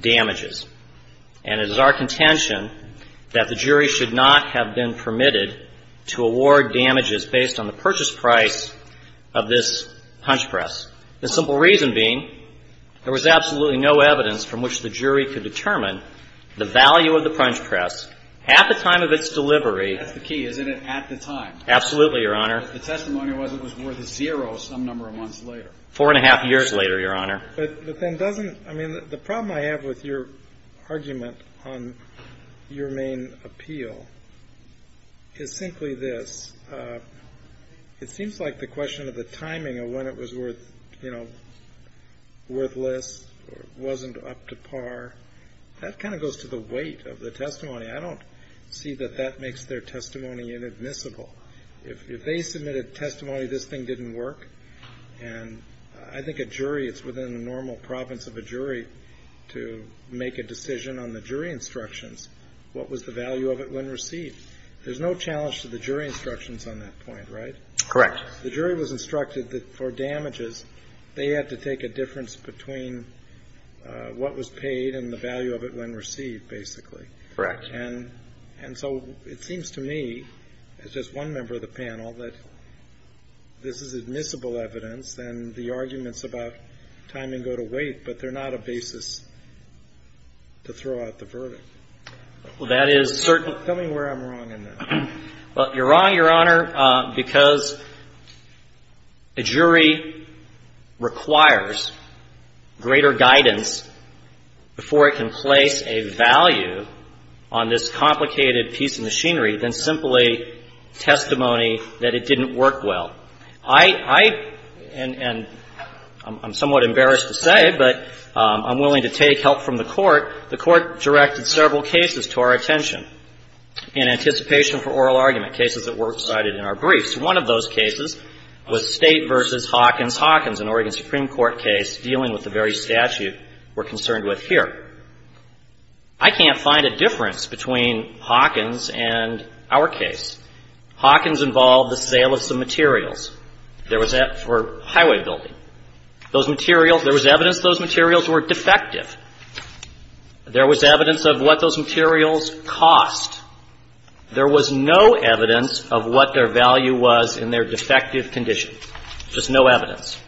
Damages. And it is our contention that the jury should not have been permitted to award damages based on the purchase price of this punch press. The simple reason being there was absolutely no evidence from which the jury could determine the value of the punch press at the time of its delivery. That's the key, isn't it? At the time. Absolutely, Your Honor. The testimony was it was worth zero some number of months later. Four and a half years later, Your Honor. But then doesn't, I mean, the problem I have with your argument on your main appeal is simply this. It seems like the question of the timing of when it was worth, you know, worthless or wasn't up to par, that kind of goes to the weight of the testimony. I don't see that that makes their testimony inadmissible. If they submitted testimony this thing didn't work, and I think a jury, it's within the normal province of a jury to make a decision on the jury instructions, what was the value of it when received. There's no challenge to the jury instructions on that point, right? Correct. The jury was instructed that for damages they had to take a difference between what was paid and the value of it when received, basically. Correct. And so it seems to me, as just one member of the panel, that this is admissible evidence, and the arguments about timing go to weight, but they're not a basis to throw out the verdict. Well, that is certain. Tell me where I'm wrong in that. Well, you're wrong, Your Honor, because a jury requires greater guidance before it can place a value on this complicated piece of machinery than simply testimony that it didn't work well. I, and I'm somewhat embarrassed to say, but I'm willing to take help from the Court. The Court directed several cases to our attention in anticipation for oral argument, cases that were cited in our briefs. One of those cases was State v. Hawkins Hawkins, an Oregon Supreme Court case dealing with the very statute we're concerned with here. I can't find a difference between Hawkins and our case. Hawkins involved the sale of some materials. There was that for highway building. Those materials, there was evidence those materials were defective. There was evidence of what those materials cost. There was no evidence of what their value was in their defective condition. Just no evidence.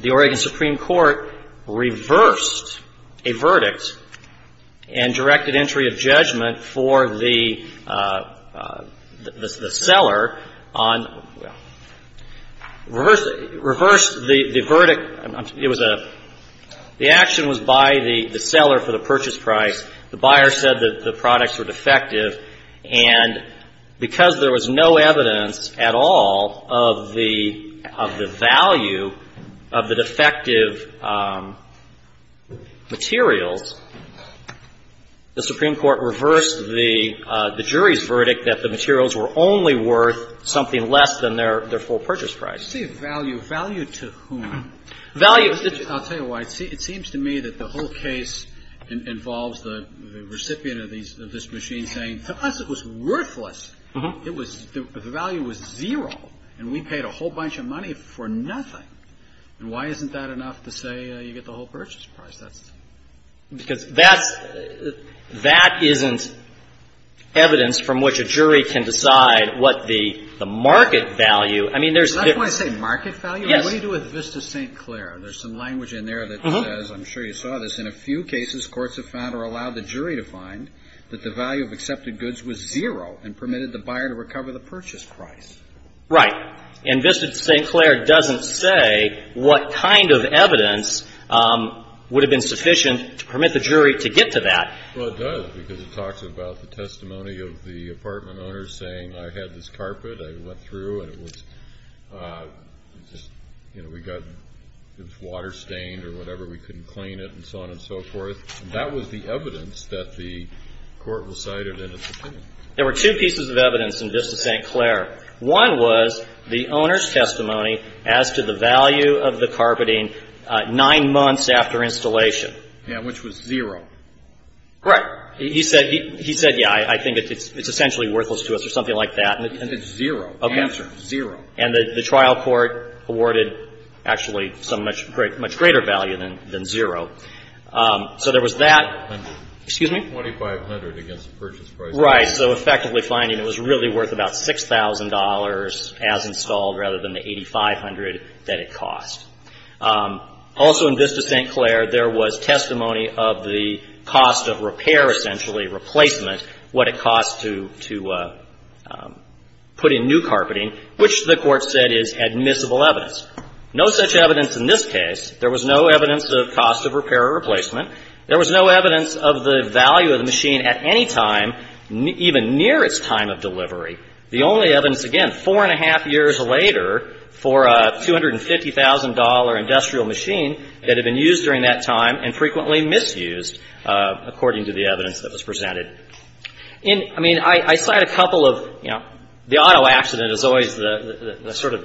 The Oregon Supreme Court reversed a verdict and directed entry of judgment for the seller on, well, reversed the verdict. It was a, the action was by the seller for the purchase price. The buyer said that the products were defective. And because there was no evidence at all of the, of the value of the defective materials, the Supreme Court reversed the jury's verdict that the materials were only worth something less than their full purchase price. I see value. Value to whom? Value. I'll tell you why. It seems to me that the whole case involves the recipient of these, of this machine saying to us it was worthless. It was, the value was zero and we paid a whole bunch of money for nothing. And why isn't that enough to say you get the whole purchase price? Because that's, that isn't evidence from which a jury can decide what the market value. That's why I say market value? Yes. What do you do with Vista St. Clair? There's some language in there that says, I'm sure you saw this, in a few cases courts have found or allowed the jury to find that the value of accepted goods was zero and permitted the buyer to recover the purchase price. Right. And Vista St. Clair doesn't say what kind of evidence would have been sufficient to permit the jury to get to that. Well, it does because it talks about the testimony of the apartment owner saying I had this carpet, I went through and it was, you know, we got, it was water stained or whatever, we couldn't clean it and so on and so forth. That was the evidence that the court recited in its opinion. There were two pieces of evidence in Vista St. Clair. One was the owner's testimony as to the value of the carpeting nine months after installation. Yeah, which was zero. Right. He said, yeah, I think it's essentially worthless to us or something like that. It's zero. Okay. Zero. And the trial court awarded actually some much greater value than zero. So there was that. Excuse me? $2,500 against the purchase price. Right. So effectively finding it was really worth about $6,000 as installed rather than the $8,500 that it cost. Also in Vista St. Clair, there was testimony of the cost of repair essentially, replacement, what it cost to put in new carpeting, which the court said is admissible evidence. No such evidence in this case. There was no evidence of cost of repair or replacement. There was no evidence of the value of the machine at any time, even near its time of delivery. The only evidence, again, four and a half years later for a $250,000 industrial machine that had been used during that time and frequently misused, according to the evidence that was presented. In, I mean, I cite a couple of, you know, the auto accident is always the sort of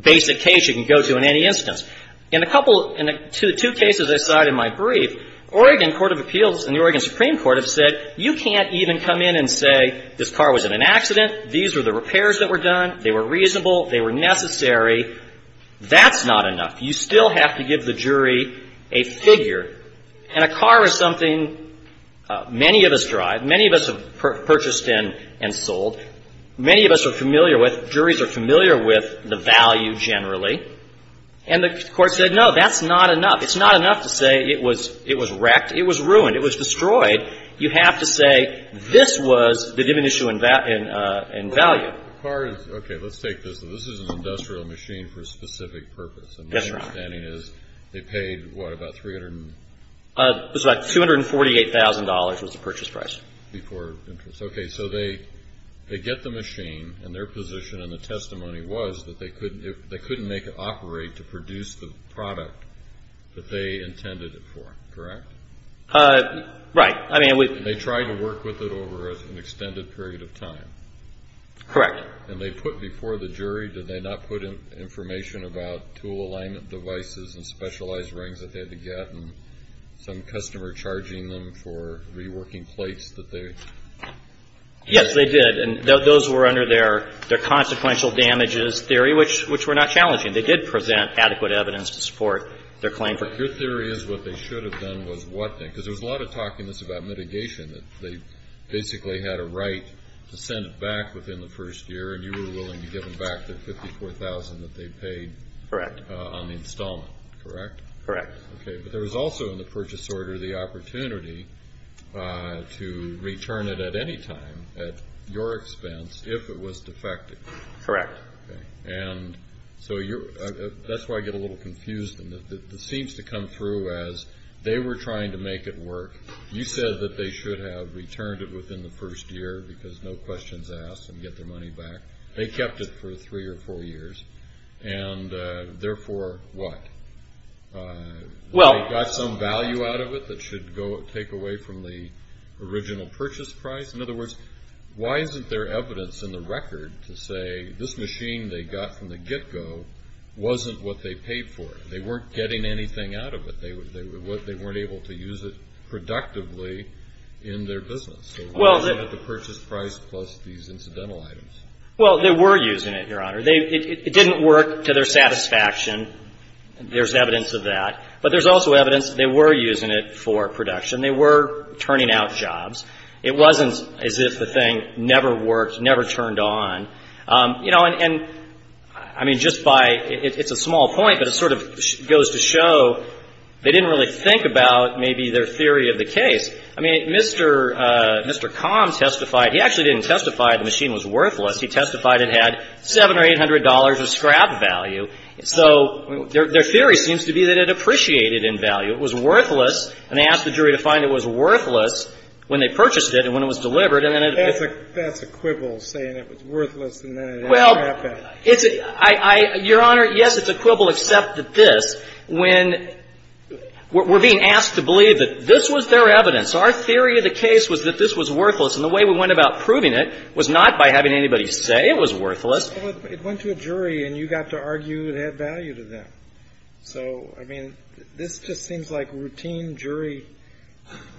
basic case you can go to in any instance. In a couple, in two cases I cite in my brief, Oregon Court of Appeals and the Oregon that were done, they were reasonable, they were necessary. That's not enough. You still have to give the jury a figure. And a car is something many of us drive, many of us have purchased and sold, many of us are familiar with, juries are familiar with the value generally. And the court said, no, that's not enough. It's not enough to say it was wrecked, it was ruined, it was destroyed. You have to say this was the diminishing in value. The car is, okay, let's take this. This is an industrial machine for a specific purpose. Yes, Your Honor. And my understanding is they paid, what, about $300,000? It was about $248,000 was the purchase price. Before interest. Okay, so they get the machine and their position in the testimony was that they couldn't make it operate to produce the product that they intended it for, correct? Right. I mean, we They tried to work with it over an extended period of time. Correct. And they put before the jury, did they not put in information about tool alignment devices and specialized rings that they had to get and some customer charging them for reworking plates that they Yes, they did. And those were under their consequential damages theory, which were not challenging. They did present adequate evidence to support their claim. Your theory is what they should have done was what thing? Because there was a lot of talk in this about mitigation. They basically had a right to send it back within the first year, and you were willing to give them back the $54,000 that they paid on the installment, correct? Correct. Okay, but there was also in the purchase order the opportunity to return it at any time at your expense if it was defective. Correct. Okay. And so that's why I get a little confused. It seems to come through as they were trying to make it work. You said that they should have returned it within the first year because no questions asked and get their money back. They kept it for three or four years, and therefore what? Well They got some value out of it that should take away from the original purchase price? In other words, why isn't there evidence in the record to say this machine they got from the get-go wasn't what they paid for? They weren't getting anything out of it. They weren't able to use it productively in their business. So why is it at the purchase price plus these incidental items? Well, they were using it, Your Honor. It didn't work to their satisfaction. There's evidence of that. But there's also evidence they were using it for production. They were turning out jobs. It wasn't as if the thing never worked, never turned on. You know, and I mean, just by, it's a small point, but it sort of goes to show they didn't really think about maybe their theory of the case. I mean, Mr. Combs testified, he actually didn't testify the machine was worthless. He testified it had $700 or $800 of scrap value. So their theory seems to be that it appreciated in value. It was worthless. And they asked the jury to find it was worthless when they purchased it and when it was delivered. That's a quibble, saying it was worthless and then it didn't happen. Well, it's a, I, Your Honor, yes, it's a quibble, except that this, when we're being asked to believe that this was their evidence. Our theory of the case was that this was worthless. And the way we went about proving it was not by having anybody say it was worthless. It went to a jury and you got to argue it had value to them. So, I mean, this just seems like routine jury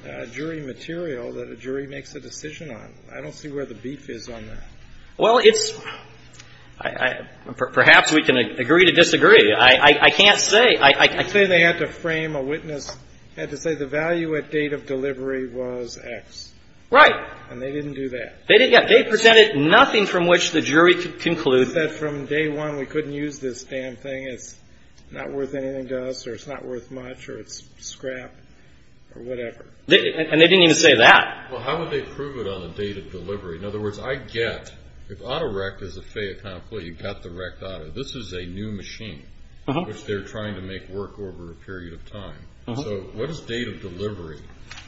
material that a jury makes a decision on. I don't see where the beef is on that. Well, it's, perhaps we can agree to disagree. I can't say. I can't say they had to frame a witness, had to say the value at date of delivery was X. Right. And they didn't do that. They presented nothing from which the jury could conclude. It's just that from day one, we couldn't use this damn thing. It's not worth anything to us or it's not worth much or it's scrap or whatever. And they didn't even say that. Well, how would they prove it on the date of delivery? In other words, I get, if auto wreck is a fait accompli, you've got the wrecked auto. This is a new machine, which they're trying to make work over a period of time. So what does date of delivery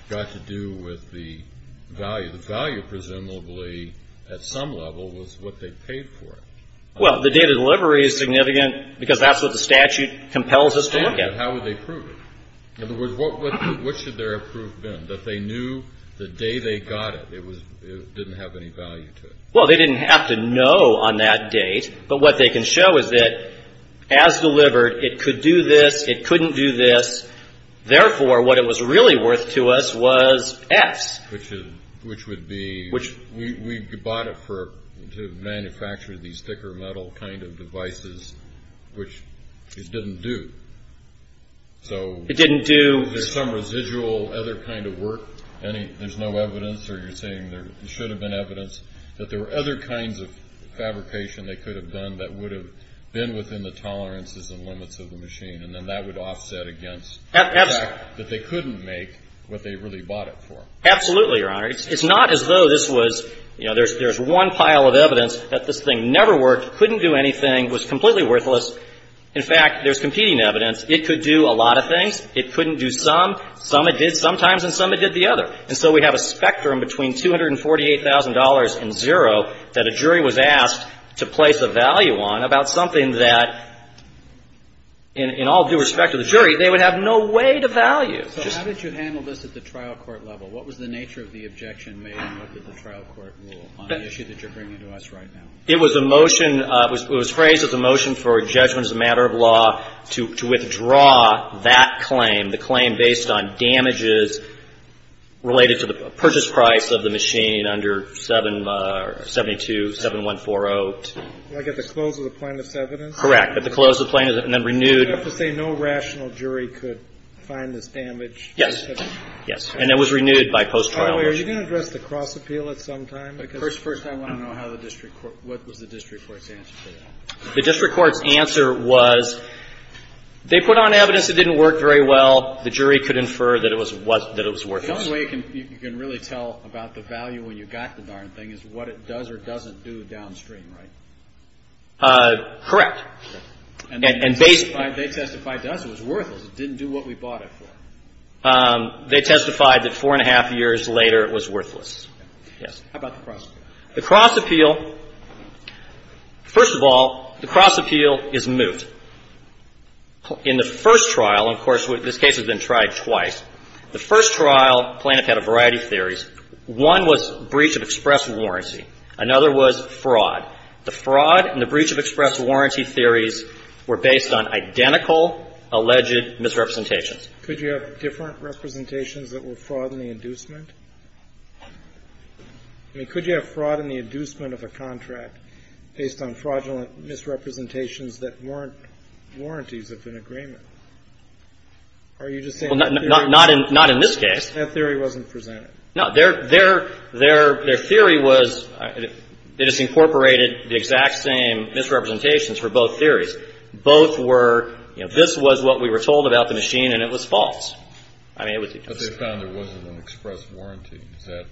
got to do with the value? The value, presumably, at some level, was what they paid for it. Well, the date of delivery is significant because that's what the statute compels us to look at. How would they prove it? In other words, what should their proof have been, that they knew the day they got it, it didn't have any value to it? Well, they didn't have to know on that date, but what they can show is that as delivered, it could do this, it couldn't do this. Therefore, what it was really worth to us was X. Which would be, we bought it to manufacture these thicker metal kind of devices, which it didn't do. It didn't do? There's some residual other kind of work. There's no evidence, or you're saying there should have been evidence, that there were other kinds of fabrication they could have done that would have been within the tolerances and limits of the machine, and then that would offset against the fact that they couldn't make what they really bought it for. Absolutely, Your Honor. It's not as though this was, you know, there's one pile of evidence that this thing never worked, couldn't do anything, was completely worthless. In fact, there's competing evidence. It could do a lot of things. It couldn't do some. Some it did sometimes, and some it did the other. And so we have a spectrum between $248,000 and zero that a jury was asked to place a value on about something that, in all due respect to the jury, they would have no way to value. So how did you handle this at the trial court level? What was the nature of the objection made and what did the trial court rule on the issue that you're bringing to us right now? It was a motion. It was phrased as a motion for a judgment as a matter of law to withdraw that claim, the claim based on damages related to the purchase price of the machine under 772-7140. Like at the close of the plaintiff's evidence? Correct. At the close of the plaintiff's, and then renewed. So you have to say no rational jury could find this damage? Yes. And it was renewed by post-trial. By the way, are you going to address the cross-appeal at some time? First, I want to know what was the district court's answer to that. The district court's answer was they put on evidence that didn't work very well. The jury could infer that it was worthless. The only way you can really tell about the value when you've got the darn thing is what it does or doesn't do downstream, right? Correct. And they testified to us it was worthless. It didn't do what we bought it for. They testified that four and a half years later it was worthless. Yes. How about the cross-appeal? The cross-appeal, first of all, the cross-appeal is moot. In the first trial, and, of course, this case has been tried twice, the first trial, the plaintiff had a variety of theories. One was breach of express warranty. Another was fraud. The fraud and the breach of express warranty theories were based on identical alleged misrepresentations. Could you have different representations that were fraud in the inducement? I mean, could you have fraud in the inducement of a contract based on fraudulent misrepresentations that weren't warranties of an agreement? Are you just saying that theory wasn't presented? Not in this case. No. Their theory was it just incorporated the exact same misrepresentations for both theories. Both were, you know, this was what we were told about the machine and it was false. I mean, it was. But they found there wasn't an express warranty. Is that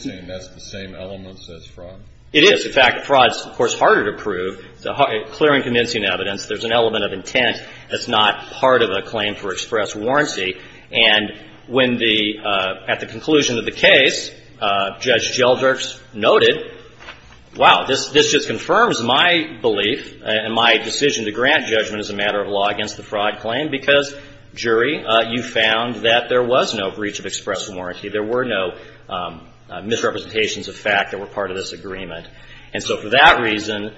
saying that's the same elements as fraud? It is. In fact, fraud is, of course, harder to prove. It's a clear and convincing evidence. There's an element of intent that's not part of a claim for express warranty. And when the at the conclusion of the case, Judge Gelderk's noted, wow, this just confirms my belief and my decision to grant judgment as a matter of law against the fraud claim because, jury, you found that there was no breach of express warranty. There were no misrepresentations of fact that were part of this agreement. And so for that reason,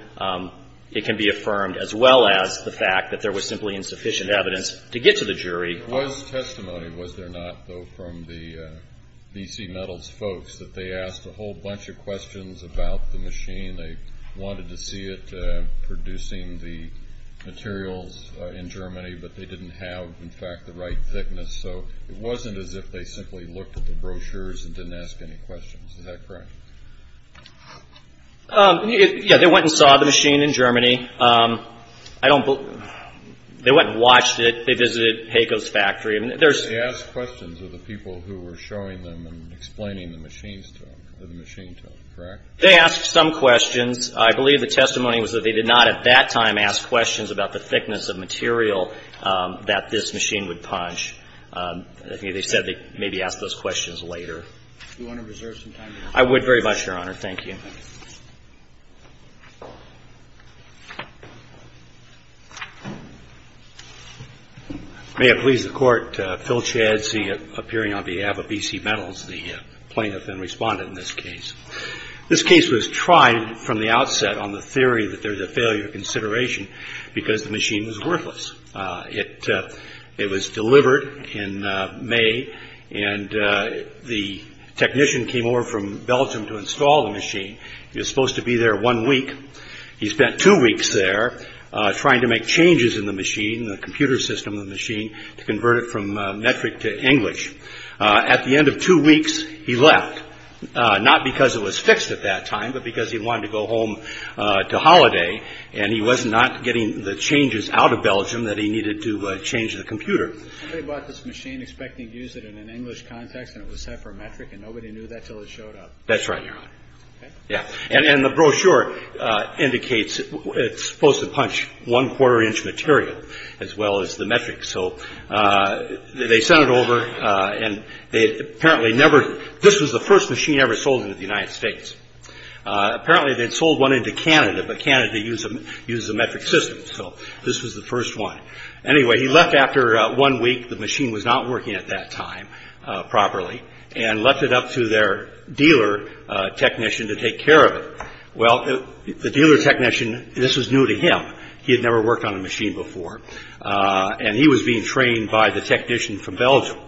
it can be affirmed as well as the fact that there was simply insufficient evidence to get to the jury. There was testimony, was there not, though, from the BC Metals folks that they asked a whole bunch of questions about the machine. They wanted to see it producing the materials in Germany, but they didn't have, in fact, the right thickness. So it wasn't as if they simply looked at the brochures and didn't ask any questions. Is that correct? Yeah, they went and saw the machine in Germany. They went and watched it. They visited Heiko's factory. They asked questions of the people who were showing them and explaining the machine to them, correct? They asked some questions. I believe the testimony was that they did not at that time ask questions about the thickness of material that this machine would punch. I think they said they maybe asked those questions later. Do you want to reserve some time? I would very much, Your Honor. Thank you. Thank you. May it please the Court, Phil Chadsee, appearing on behalf of BC Metals, the plaintiff and respondent in this case. This case was tried from the outset on the theory that there's a failure of consideration because the machine was worthless. It was delivered in May, and the technician came over from Belgium to install the machine. He was supposed to be there one week. He spent two weeks there trying to make changes in the machine, the computer system of the machine, to convert it from metric to English. At the end of two weeks, he left, not because it was fixed at that time, but because he wanted to go home to holiday, and he was not getting the changes out of Belgium that he needed to change the computer. Somebody bought this machine expecting to use it in an English context, and it was set for metric, and nobody knew that until it showed up. That's right, Your Honor. Okay. Yeah. And the brochure indicates it's supposed to punch one-quarter inch material as well as the metric. So they sent it over, and they apparently never – this was the first machine ever sold into the United States. Apparently, they'd sold one into Canada, but Canada uses a metric system, so this was the first one. Anyway, he left after one week. The machine was not working at that time properly, and left it up to their dealer technician to take care of it. Well, the dealer technician, this was new to him. He had never worked on a machine before, and he was being trained by the technician from Belgium.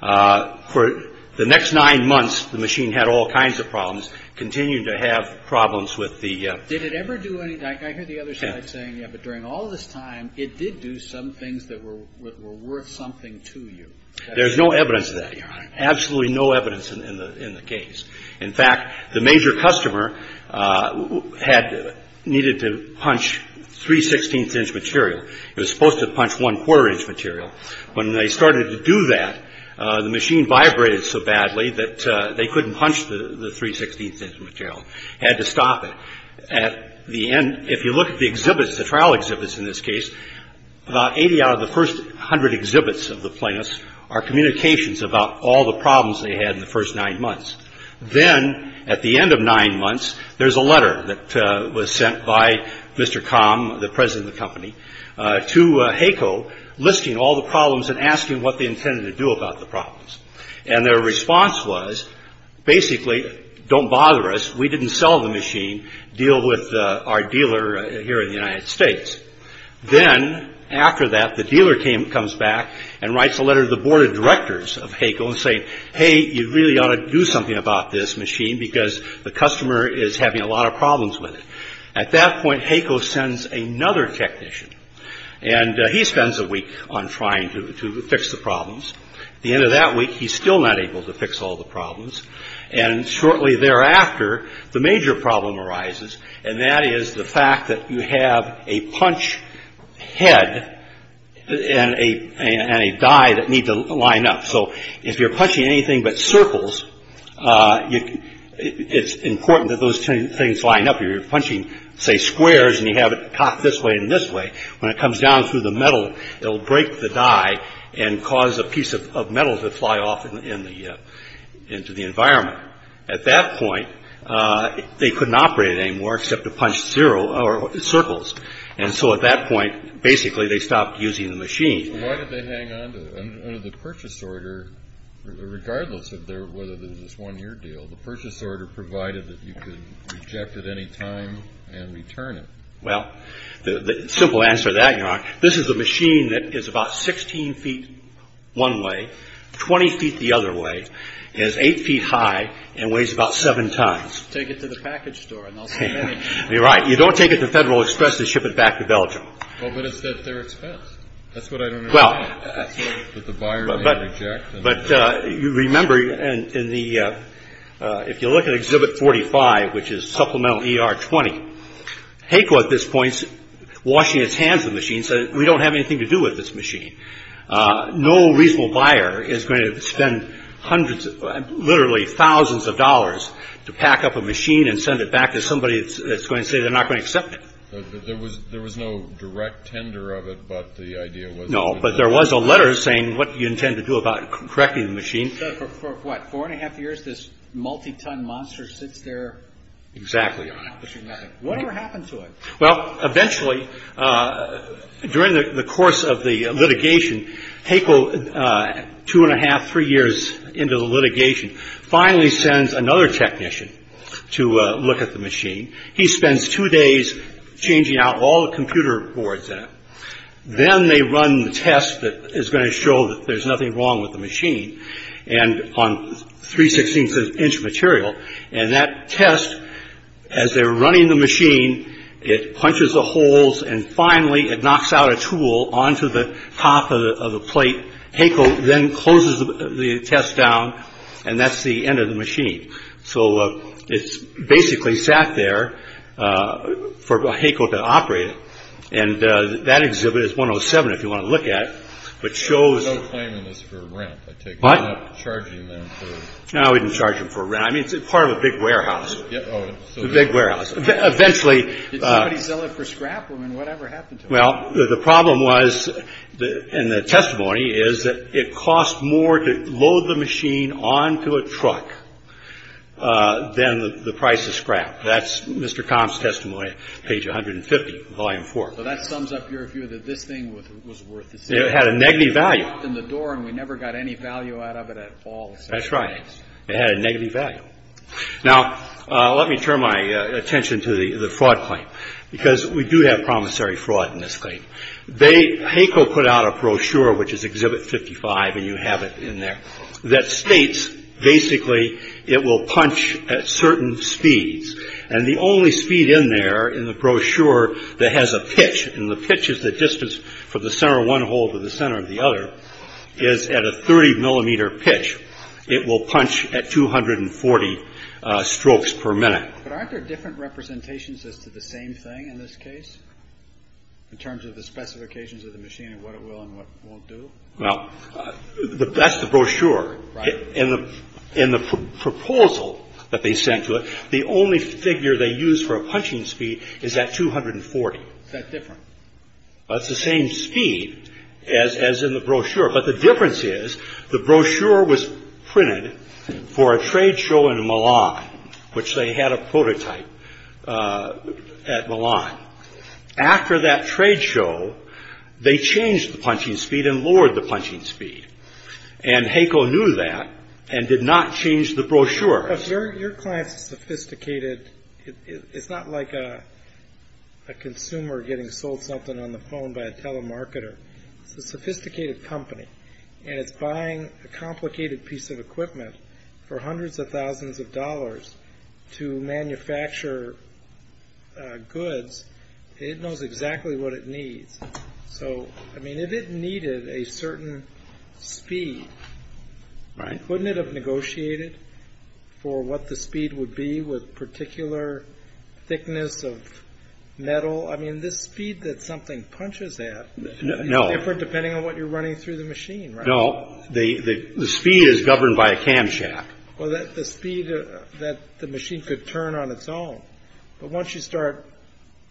For the next nine months, the machine had all kinds of problems, continued to have problems with the – Did it ever do any – I hear the other side saying, yeah, but during all this time, it did do some things that were worth something to you. There's no evidence of that, Your Honor. Absolutely no evidence in the case. In fact, the major customer had – needed to punch three-sixteenths inch material. It was supposed to punch one-quarter inch material. When they started to do that, the machine vibrated so badly that they couldn't punch the three-sixteenths inch material. Had to stop it. At the end – if you look at the exhibits, the trial exhibits in this case, about 80 out of the first 100 exhibits of the plaintiffs are communications about all the problems they had in the first nine months. Then, at the end of nine months, there's a letter that was sent by Mr. Kham, the president of the company, to HACO listing all the problems and asking what they intended to do about the problems. And their response was, basically, don't bother us. We didn't sell the machine. Deal with our dealer here in the United States. Then, after that, the dealer came – comes back and writes a letter to the board of directors of HACO saying, hey, you really ought to do something about this machine because the customer is having a lot of problems with it. At that point, HACO sends another technician, and he spends a week on trying to fix the problems. At the end of that week, he's still not able to fix all the problems. And shortly thereafter, the major problem arises, and that is the fact that you have a punch head and a die that need to line up. So if you're punching anything but circles, it's important that those things line up. You're punching, say, squares, and you have it cocked this way and this way. When it comes down through the metal, it will break the die and cause a piece of metal to fly off into the environment. At that point, they couldn't operate it anymore except to punch circles. And so at that point, basically, they stopped using the machine. So why did they hang on to it? Under the purchase order, regardless of whether there was this one-year deal, the purchase order provided that you could reject it any time and return it. Well, the simple answer to that, this is a machine that is about 16 feet one way, 20 feet the other way, is 8 feet high, and weighs about 7 tons. Take it to the package store, and they'll send it in. You're right. You don't take it to Federal Express to ship it back to Belgium. Well, but it's at their expense. That's what I don't understand. But the buyer may reject it. But remember, if you look at Exhibit 45, which is Supplemental ER-20, HACO at this point is washing its hands of the machine, saying we don't have anything to do with this machine. No reasonable buyer is going to spend hundreds, literally thousands of dollars, to pack up a machine and send it back to somebody that's going to say they're not going to accept it. No, but there was a letter saying what you intend to do about correcting the machine. So for what, four and a half years, this multi-ton monster sits there? Exactly. What ever happened to it? Well, eventually, during the course of the litigation, HACO, two and a half, three years into the litigation, finally sends another technician to look at the machine. He spends two days changing out all the computer boards in it. Then they run the test that is going to show that there's nothing wrong with the machine, and on three-sixteenths of an inch material. And that test, as they're running the machine, it punches the holes, and finally it knocks out a tool onto the top of the plate. HACO then closes the test down, and that's the end of the machine. So it's basically sat there for HACO to operate it. And that exhibit is 107, if you want to look at it, which shows. There's no claim on this for rent, I take it. What? You're not charging them for. No, we didn't charge them for rent. I mean, it's part of a big warehouse. Oh, so. It's a big warehouse. Eventually. Did somebody sell it for scrap? I mean, what ever happened to it? Well, the problem was, in the testimony, is that it cost more to load the machine onto a truck than the price of scrap. That's Mr. Comp's testimony, page 150, volume four. So that sums up your view that this thing was worth the sale. It had a negative value. We knocked on the door, and we never got any value out of it at all. That's right. It had a negative value. Now, let me turn my attention to the fraud claim, because we do have promissory fraud in this claim. HACO put out a brochure, which is exhibit 55, and you have it in there, that states, basically, it will punch at certain speeds. And the only speed in there in the brochure that has a pitch, and the pitch is the distance from the center of one hole to the center of the other, is at a 30 millimeter pitch. It will punch at 240 strokes per minute. But aren't there different representations as to the same thing in this case, in terms of the specifications of the machine and what it will and what it won't do? Well, that's the brochure. Right. In the proposal that they sent to it, the only figure they used for a punching speed is at 240. Is that different? That's the same speed as in the brochure. But the difference is, the brochure was printed for a trade show in Milan, which they had a prototype at Milan. After that trade show, they changed the punching speed and lowered the punching speed. And HACO knew that and did not change the brochure. But your client is sophisticated. It's not like a consumer getting sold something on the phone by a telemarketer. It's a sophisticated company, and it's buying a complicated piece of equipment for hundreds of thousands of dollars to manufacture goods. It knows exactly what it needs. So, I mean, if it needed a certain speed, wouldn't it have negotiated for what the speed would be with particular thickness of metal? I mean, this speed that something punches at is different depending on what you're running through the machine, right? No. The speed is governed by a camshaft. Well, the speed that the machine could turn on its own. But once you start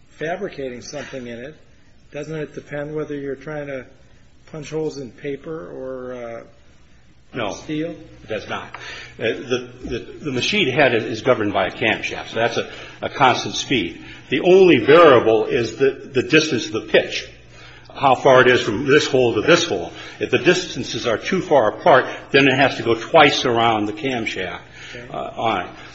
fabricating something in it, doesn't it depend whether you're trying to punch holes in paper or steel? No, it does not. The machine head is governed by a camshaft, so that's a constant speed. The only variable is the distance of the pitch, how far it is from this hole to this hole. If the distances are too far apart, then it has to go twice around the camshaft.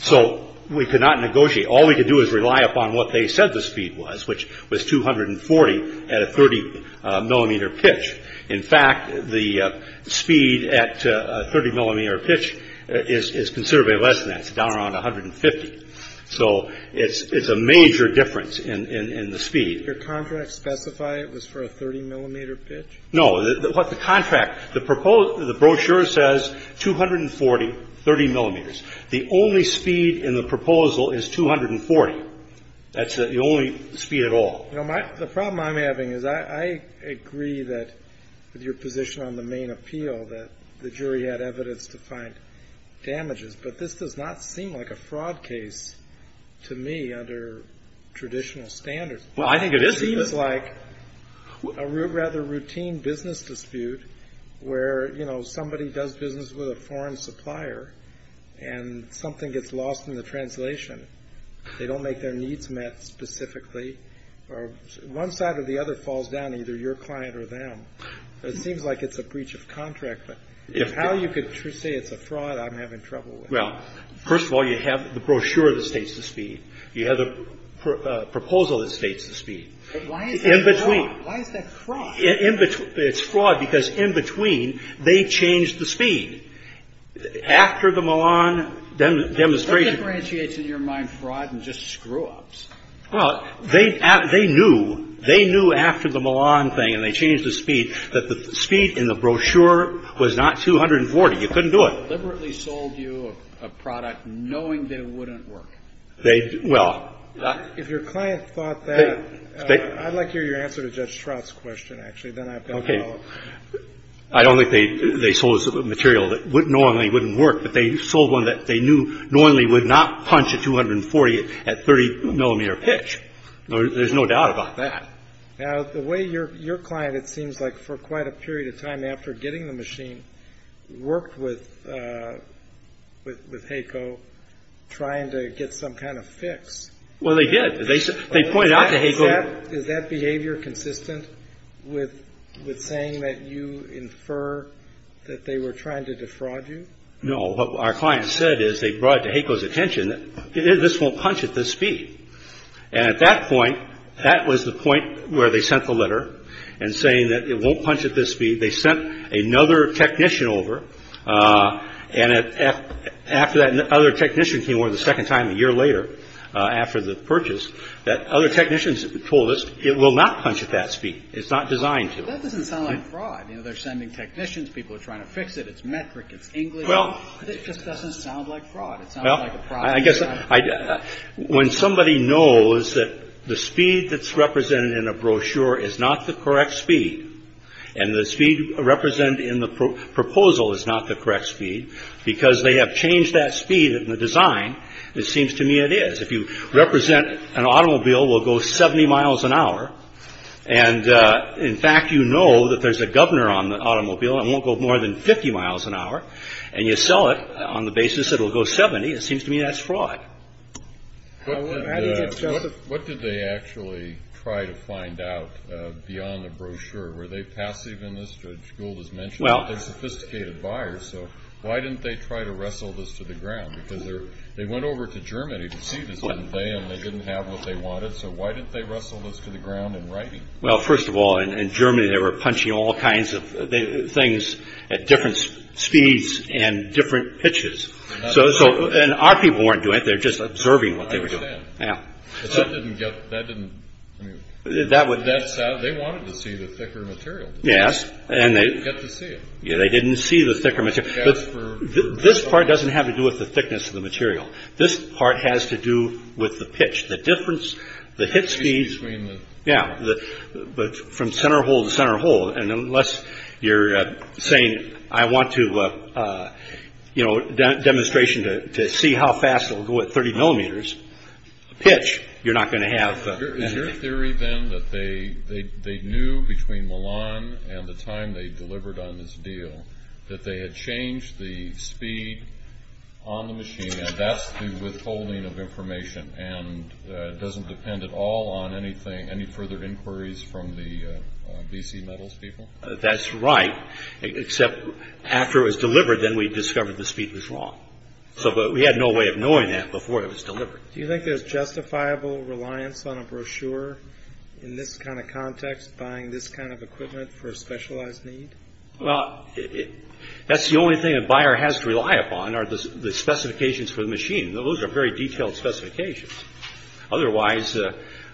So we could not negotiate. All we could do is rely upon what they said the speed was, which was 240 at a 30-millimeter pitch. In fact, the speed at a 30-millimeter pitch is considerably less than that. It's down around 150. So it's a major difference in the speed. Did your contract specify it was for a 30-millimeter pitch? No. What the contract, the brochure says 240, 30 millimeters. The only speed in the proposal is 240. That's the only speed at all. The problem I'm having is I agree that, with your position on the main appeal, that the jury had evidence to find damages, but this does not seem like a fraud case to me under traditional standards. Well, I think it is. It seems like a rather routine business dispute where, you know, somebody does business with a foreign supplier and something gets lost in the translation. They don't make their needs met specifically, or one side or the other falls down, either your client or them. It seems like it's a breach of contract, but if how you could say it's a fraud, I'm having trouble with. Well, first of all, you have the brochure that states the speed. You have the proposal that states the speed. But why is that fraud? In between. Why is that fraud? It's fraud because, in between, they changed the speed. After the Milan demonstration. What differentiates, in your mind, fraud and just screw-ups? Well, they knew. They knew after the Milan thing, and they changed the speed, that the speed in the brochure was not 240. You couldn't do it. They deliberately sold you a product knowing that it wouldn't work. If your client thought that, I'd like to hear your answer to Judge Strout's question, actually. Then I've got to follow up. Okay. I don't think they sold us a material that knowingly wouldn't work, but they sold one that they knew knowingly would not punch a 240 at 30 millimeter pitch. There's no doubt about that. Now, the way your client, it seems like, for quite a period of time after getting the machine, worked with HACO trying to get some kind of fix. Well, they did. They pointed out to HACO. Is that behavior consistent with saying that you infer that they were trying to defraud you? No. What our client said is they brought to HACO's attention that this won't punch at this speed. And at that point, that was the point where they sent the letter and saying that it won't punch at this speed. They sent another technician over. And after that other technician came over the second time a year later after the purchase, that other technicians told us it will not punch at that speed. It's not designed to. That doesn't sound like fraud. You know, they're sending technicians. People are trying to fix it. It's metric. It's English. It just doesn't sound like fraud. It sounds like a product. Well, I guess when somebody knows that the speed that's represented in a brochure is not the correct speed and the speed represented in the proposal is not the correct speed, because they have changed that speed in the design, it seems to me it is. If you represent an automobile will go 70 miles an hour, and in fact, you know that there's a governor on the automobile and it won't go more than 50 miles an hour, and you sell it on the basis it will go 70, it seems to me that's fraud. What did they actually try to find out beyond the brochure? Were they passive in this? Judge Gould has mentioned they're sophisticated buyers, so why didn't they try to wrestle this to the ground? Because they went over to Germany to see this, didn't they, and they didn't have what they wanted, so why didn't they wrestle this to the ground in writing? Well, first of all, in Germany they were punching all kinds of things at different speeds and different pitches. And our people weren't doing it, they were just observing what they were doing. I understand. They wanted to see the thicker material. Yes. They didn't get to see it. They didn't see the thicker material. This part doesn't have to do with the thickness of the material. This part has to do with the pitch. The difference, the hit speed, from center hole to center hole, and unless you're saying I want to, you know, demonstration to see how fast it will go at 30 millimeters, pitch, you're not going to have... Is your theory then that they knew between Milan and the time they delivered on this deal that they had changed the speed on the machine, and that's the withholding of information, and doesn't depend at all on any further inquiries from the BC Metals people? That's right, except after it was delivered, then we discovered the speed was wrong. So we had no way of knowing that before it was delivered. Do you think there's justifiable reliance on a brochure in this kind of context, buying this kind of equipment for a specialized need? Well, that's the only thing a buyer has to rely upon are the specifications for the machine. Those are very detailed specifications. Otherwise,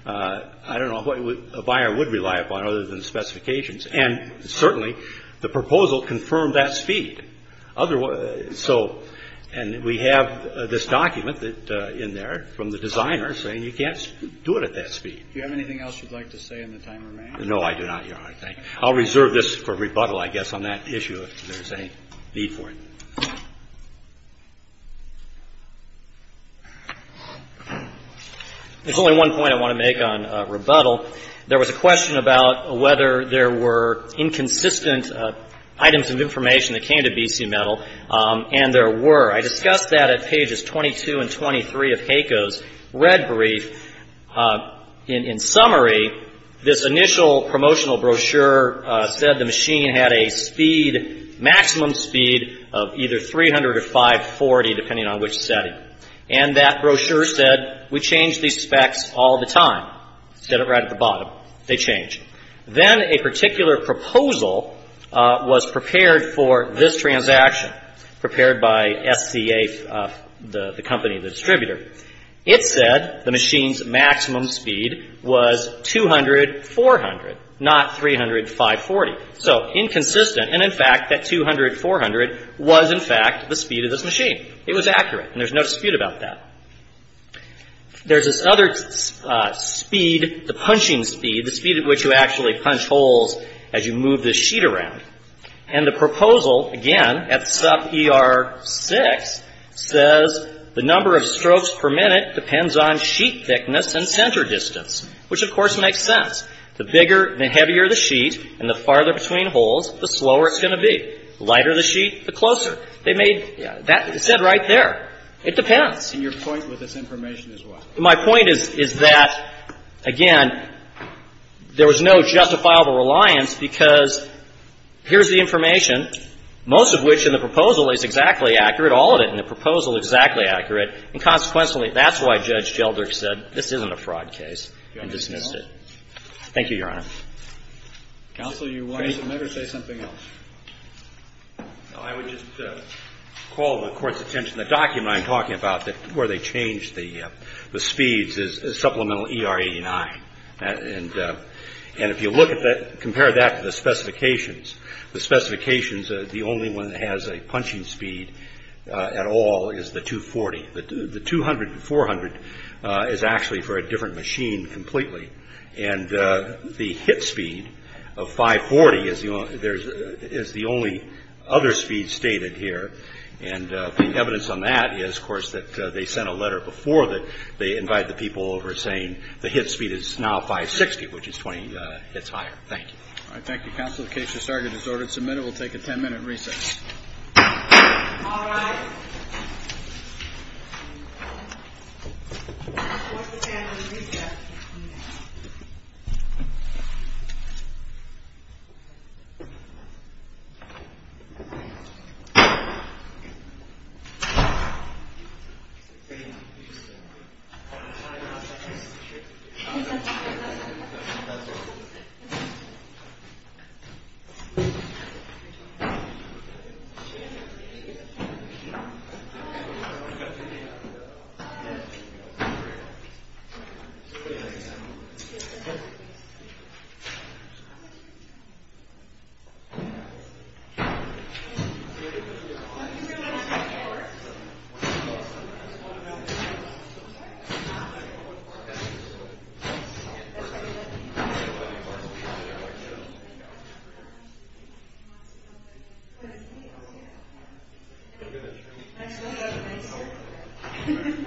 I don't know what a buyer would rely upon other than specifications, and certainly the proposal confirmed that speed. And we have this document in there from the designer saying you can't do it at that speed. Do you have anything else you'd like to say in the time remaining? No, I do not, Your Honor. I'll reserve this for rebuttal, I guess, on that issue if there's any need for it. There's only one point I want to make on rebuttal. There was a question about whether there were inconsistent items of information that came to BC Metal, and there were. I discussed that at pages 22 and 23 of HACO's red brief. In summary, this initial promotional brochure said the machine had a speed, maximum speed of either 300 or 540, depending on which setting. And that brochure said we change these specs all the time. It said it right at the bottom. They change. Then a particular proposal was prepared for this transaction, prepared by SCA, the company, the distributor. It said the machine's maximum speed was 200-400, not 300-540. So inconsistent, and in fact that 200-400 was, in fact, the speed of this machine. It was accurate, and there's no dispute about that. There's this other speed, the punching speed, the speed at which you actually punch holes as you move this sheet around. And the proposal, again, at sub-ER-6, says the number of strokes per minute depends on sheet thickness and center distance, which, of course, makes sense. The bigger and heavier the sheet and the farther between holes, the slower it's going to be. The lighter the sheet, the closer. They made that, it said right there. It depends. And your point with this information is what? My point is, is that, again, there was no justifiable reliance, because here's the information, most of which in the proposal is exactly accurate, all of it in the proposal exactly accurate, and consequently, that's why Judge Gelderk said this isn't a fraud case and dismissed it. Thank you, Your Honor. Counsel, you wanted to make or say something else? I would just call the Court's attention. The document I'm talking about where they changed the speeds is supplemental ER-89. And if you look at that, compare that to the specifications, the specifications, the only one that has a punching speed at all is the 240. The 200 and 400 is actually for a different machine completely. And the hit speed of 540 is the only other speed stated here. And the evidence on that is, of course, that they sent a letter before that. They invite the people over saying the hit speed is now 560, which is 20 hits higher. Thank you. All right. Thank you, Counsel. The case has started. It's ordered and submitted. We'll take a 10-minute recess. All rise. Thank you. Thank you. Next we'll have Rachel.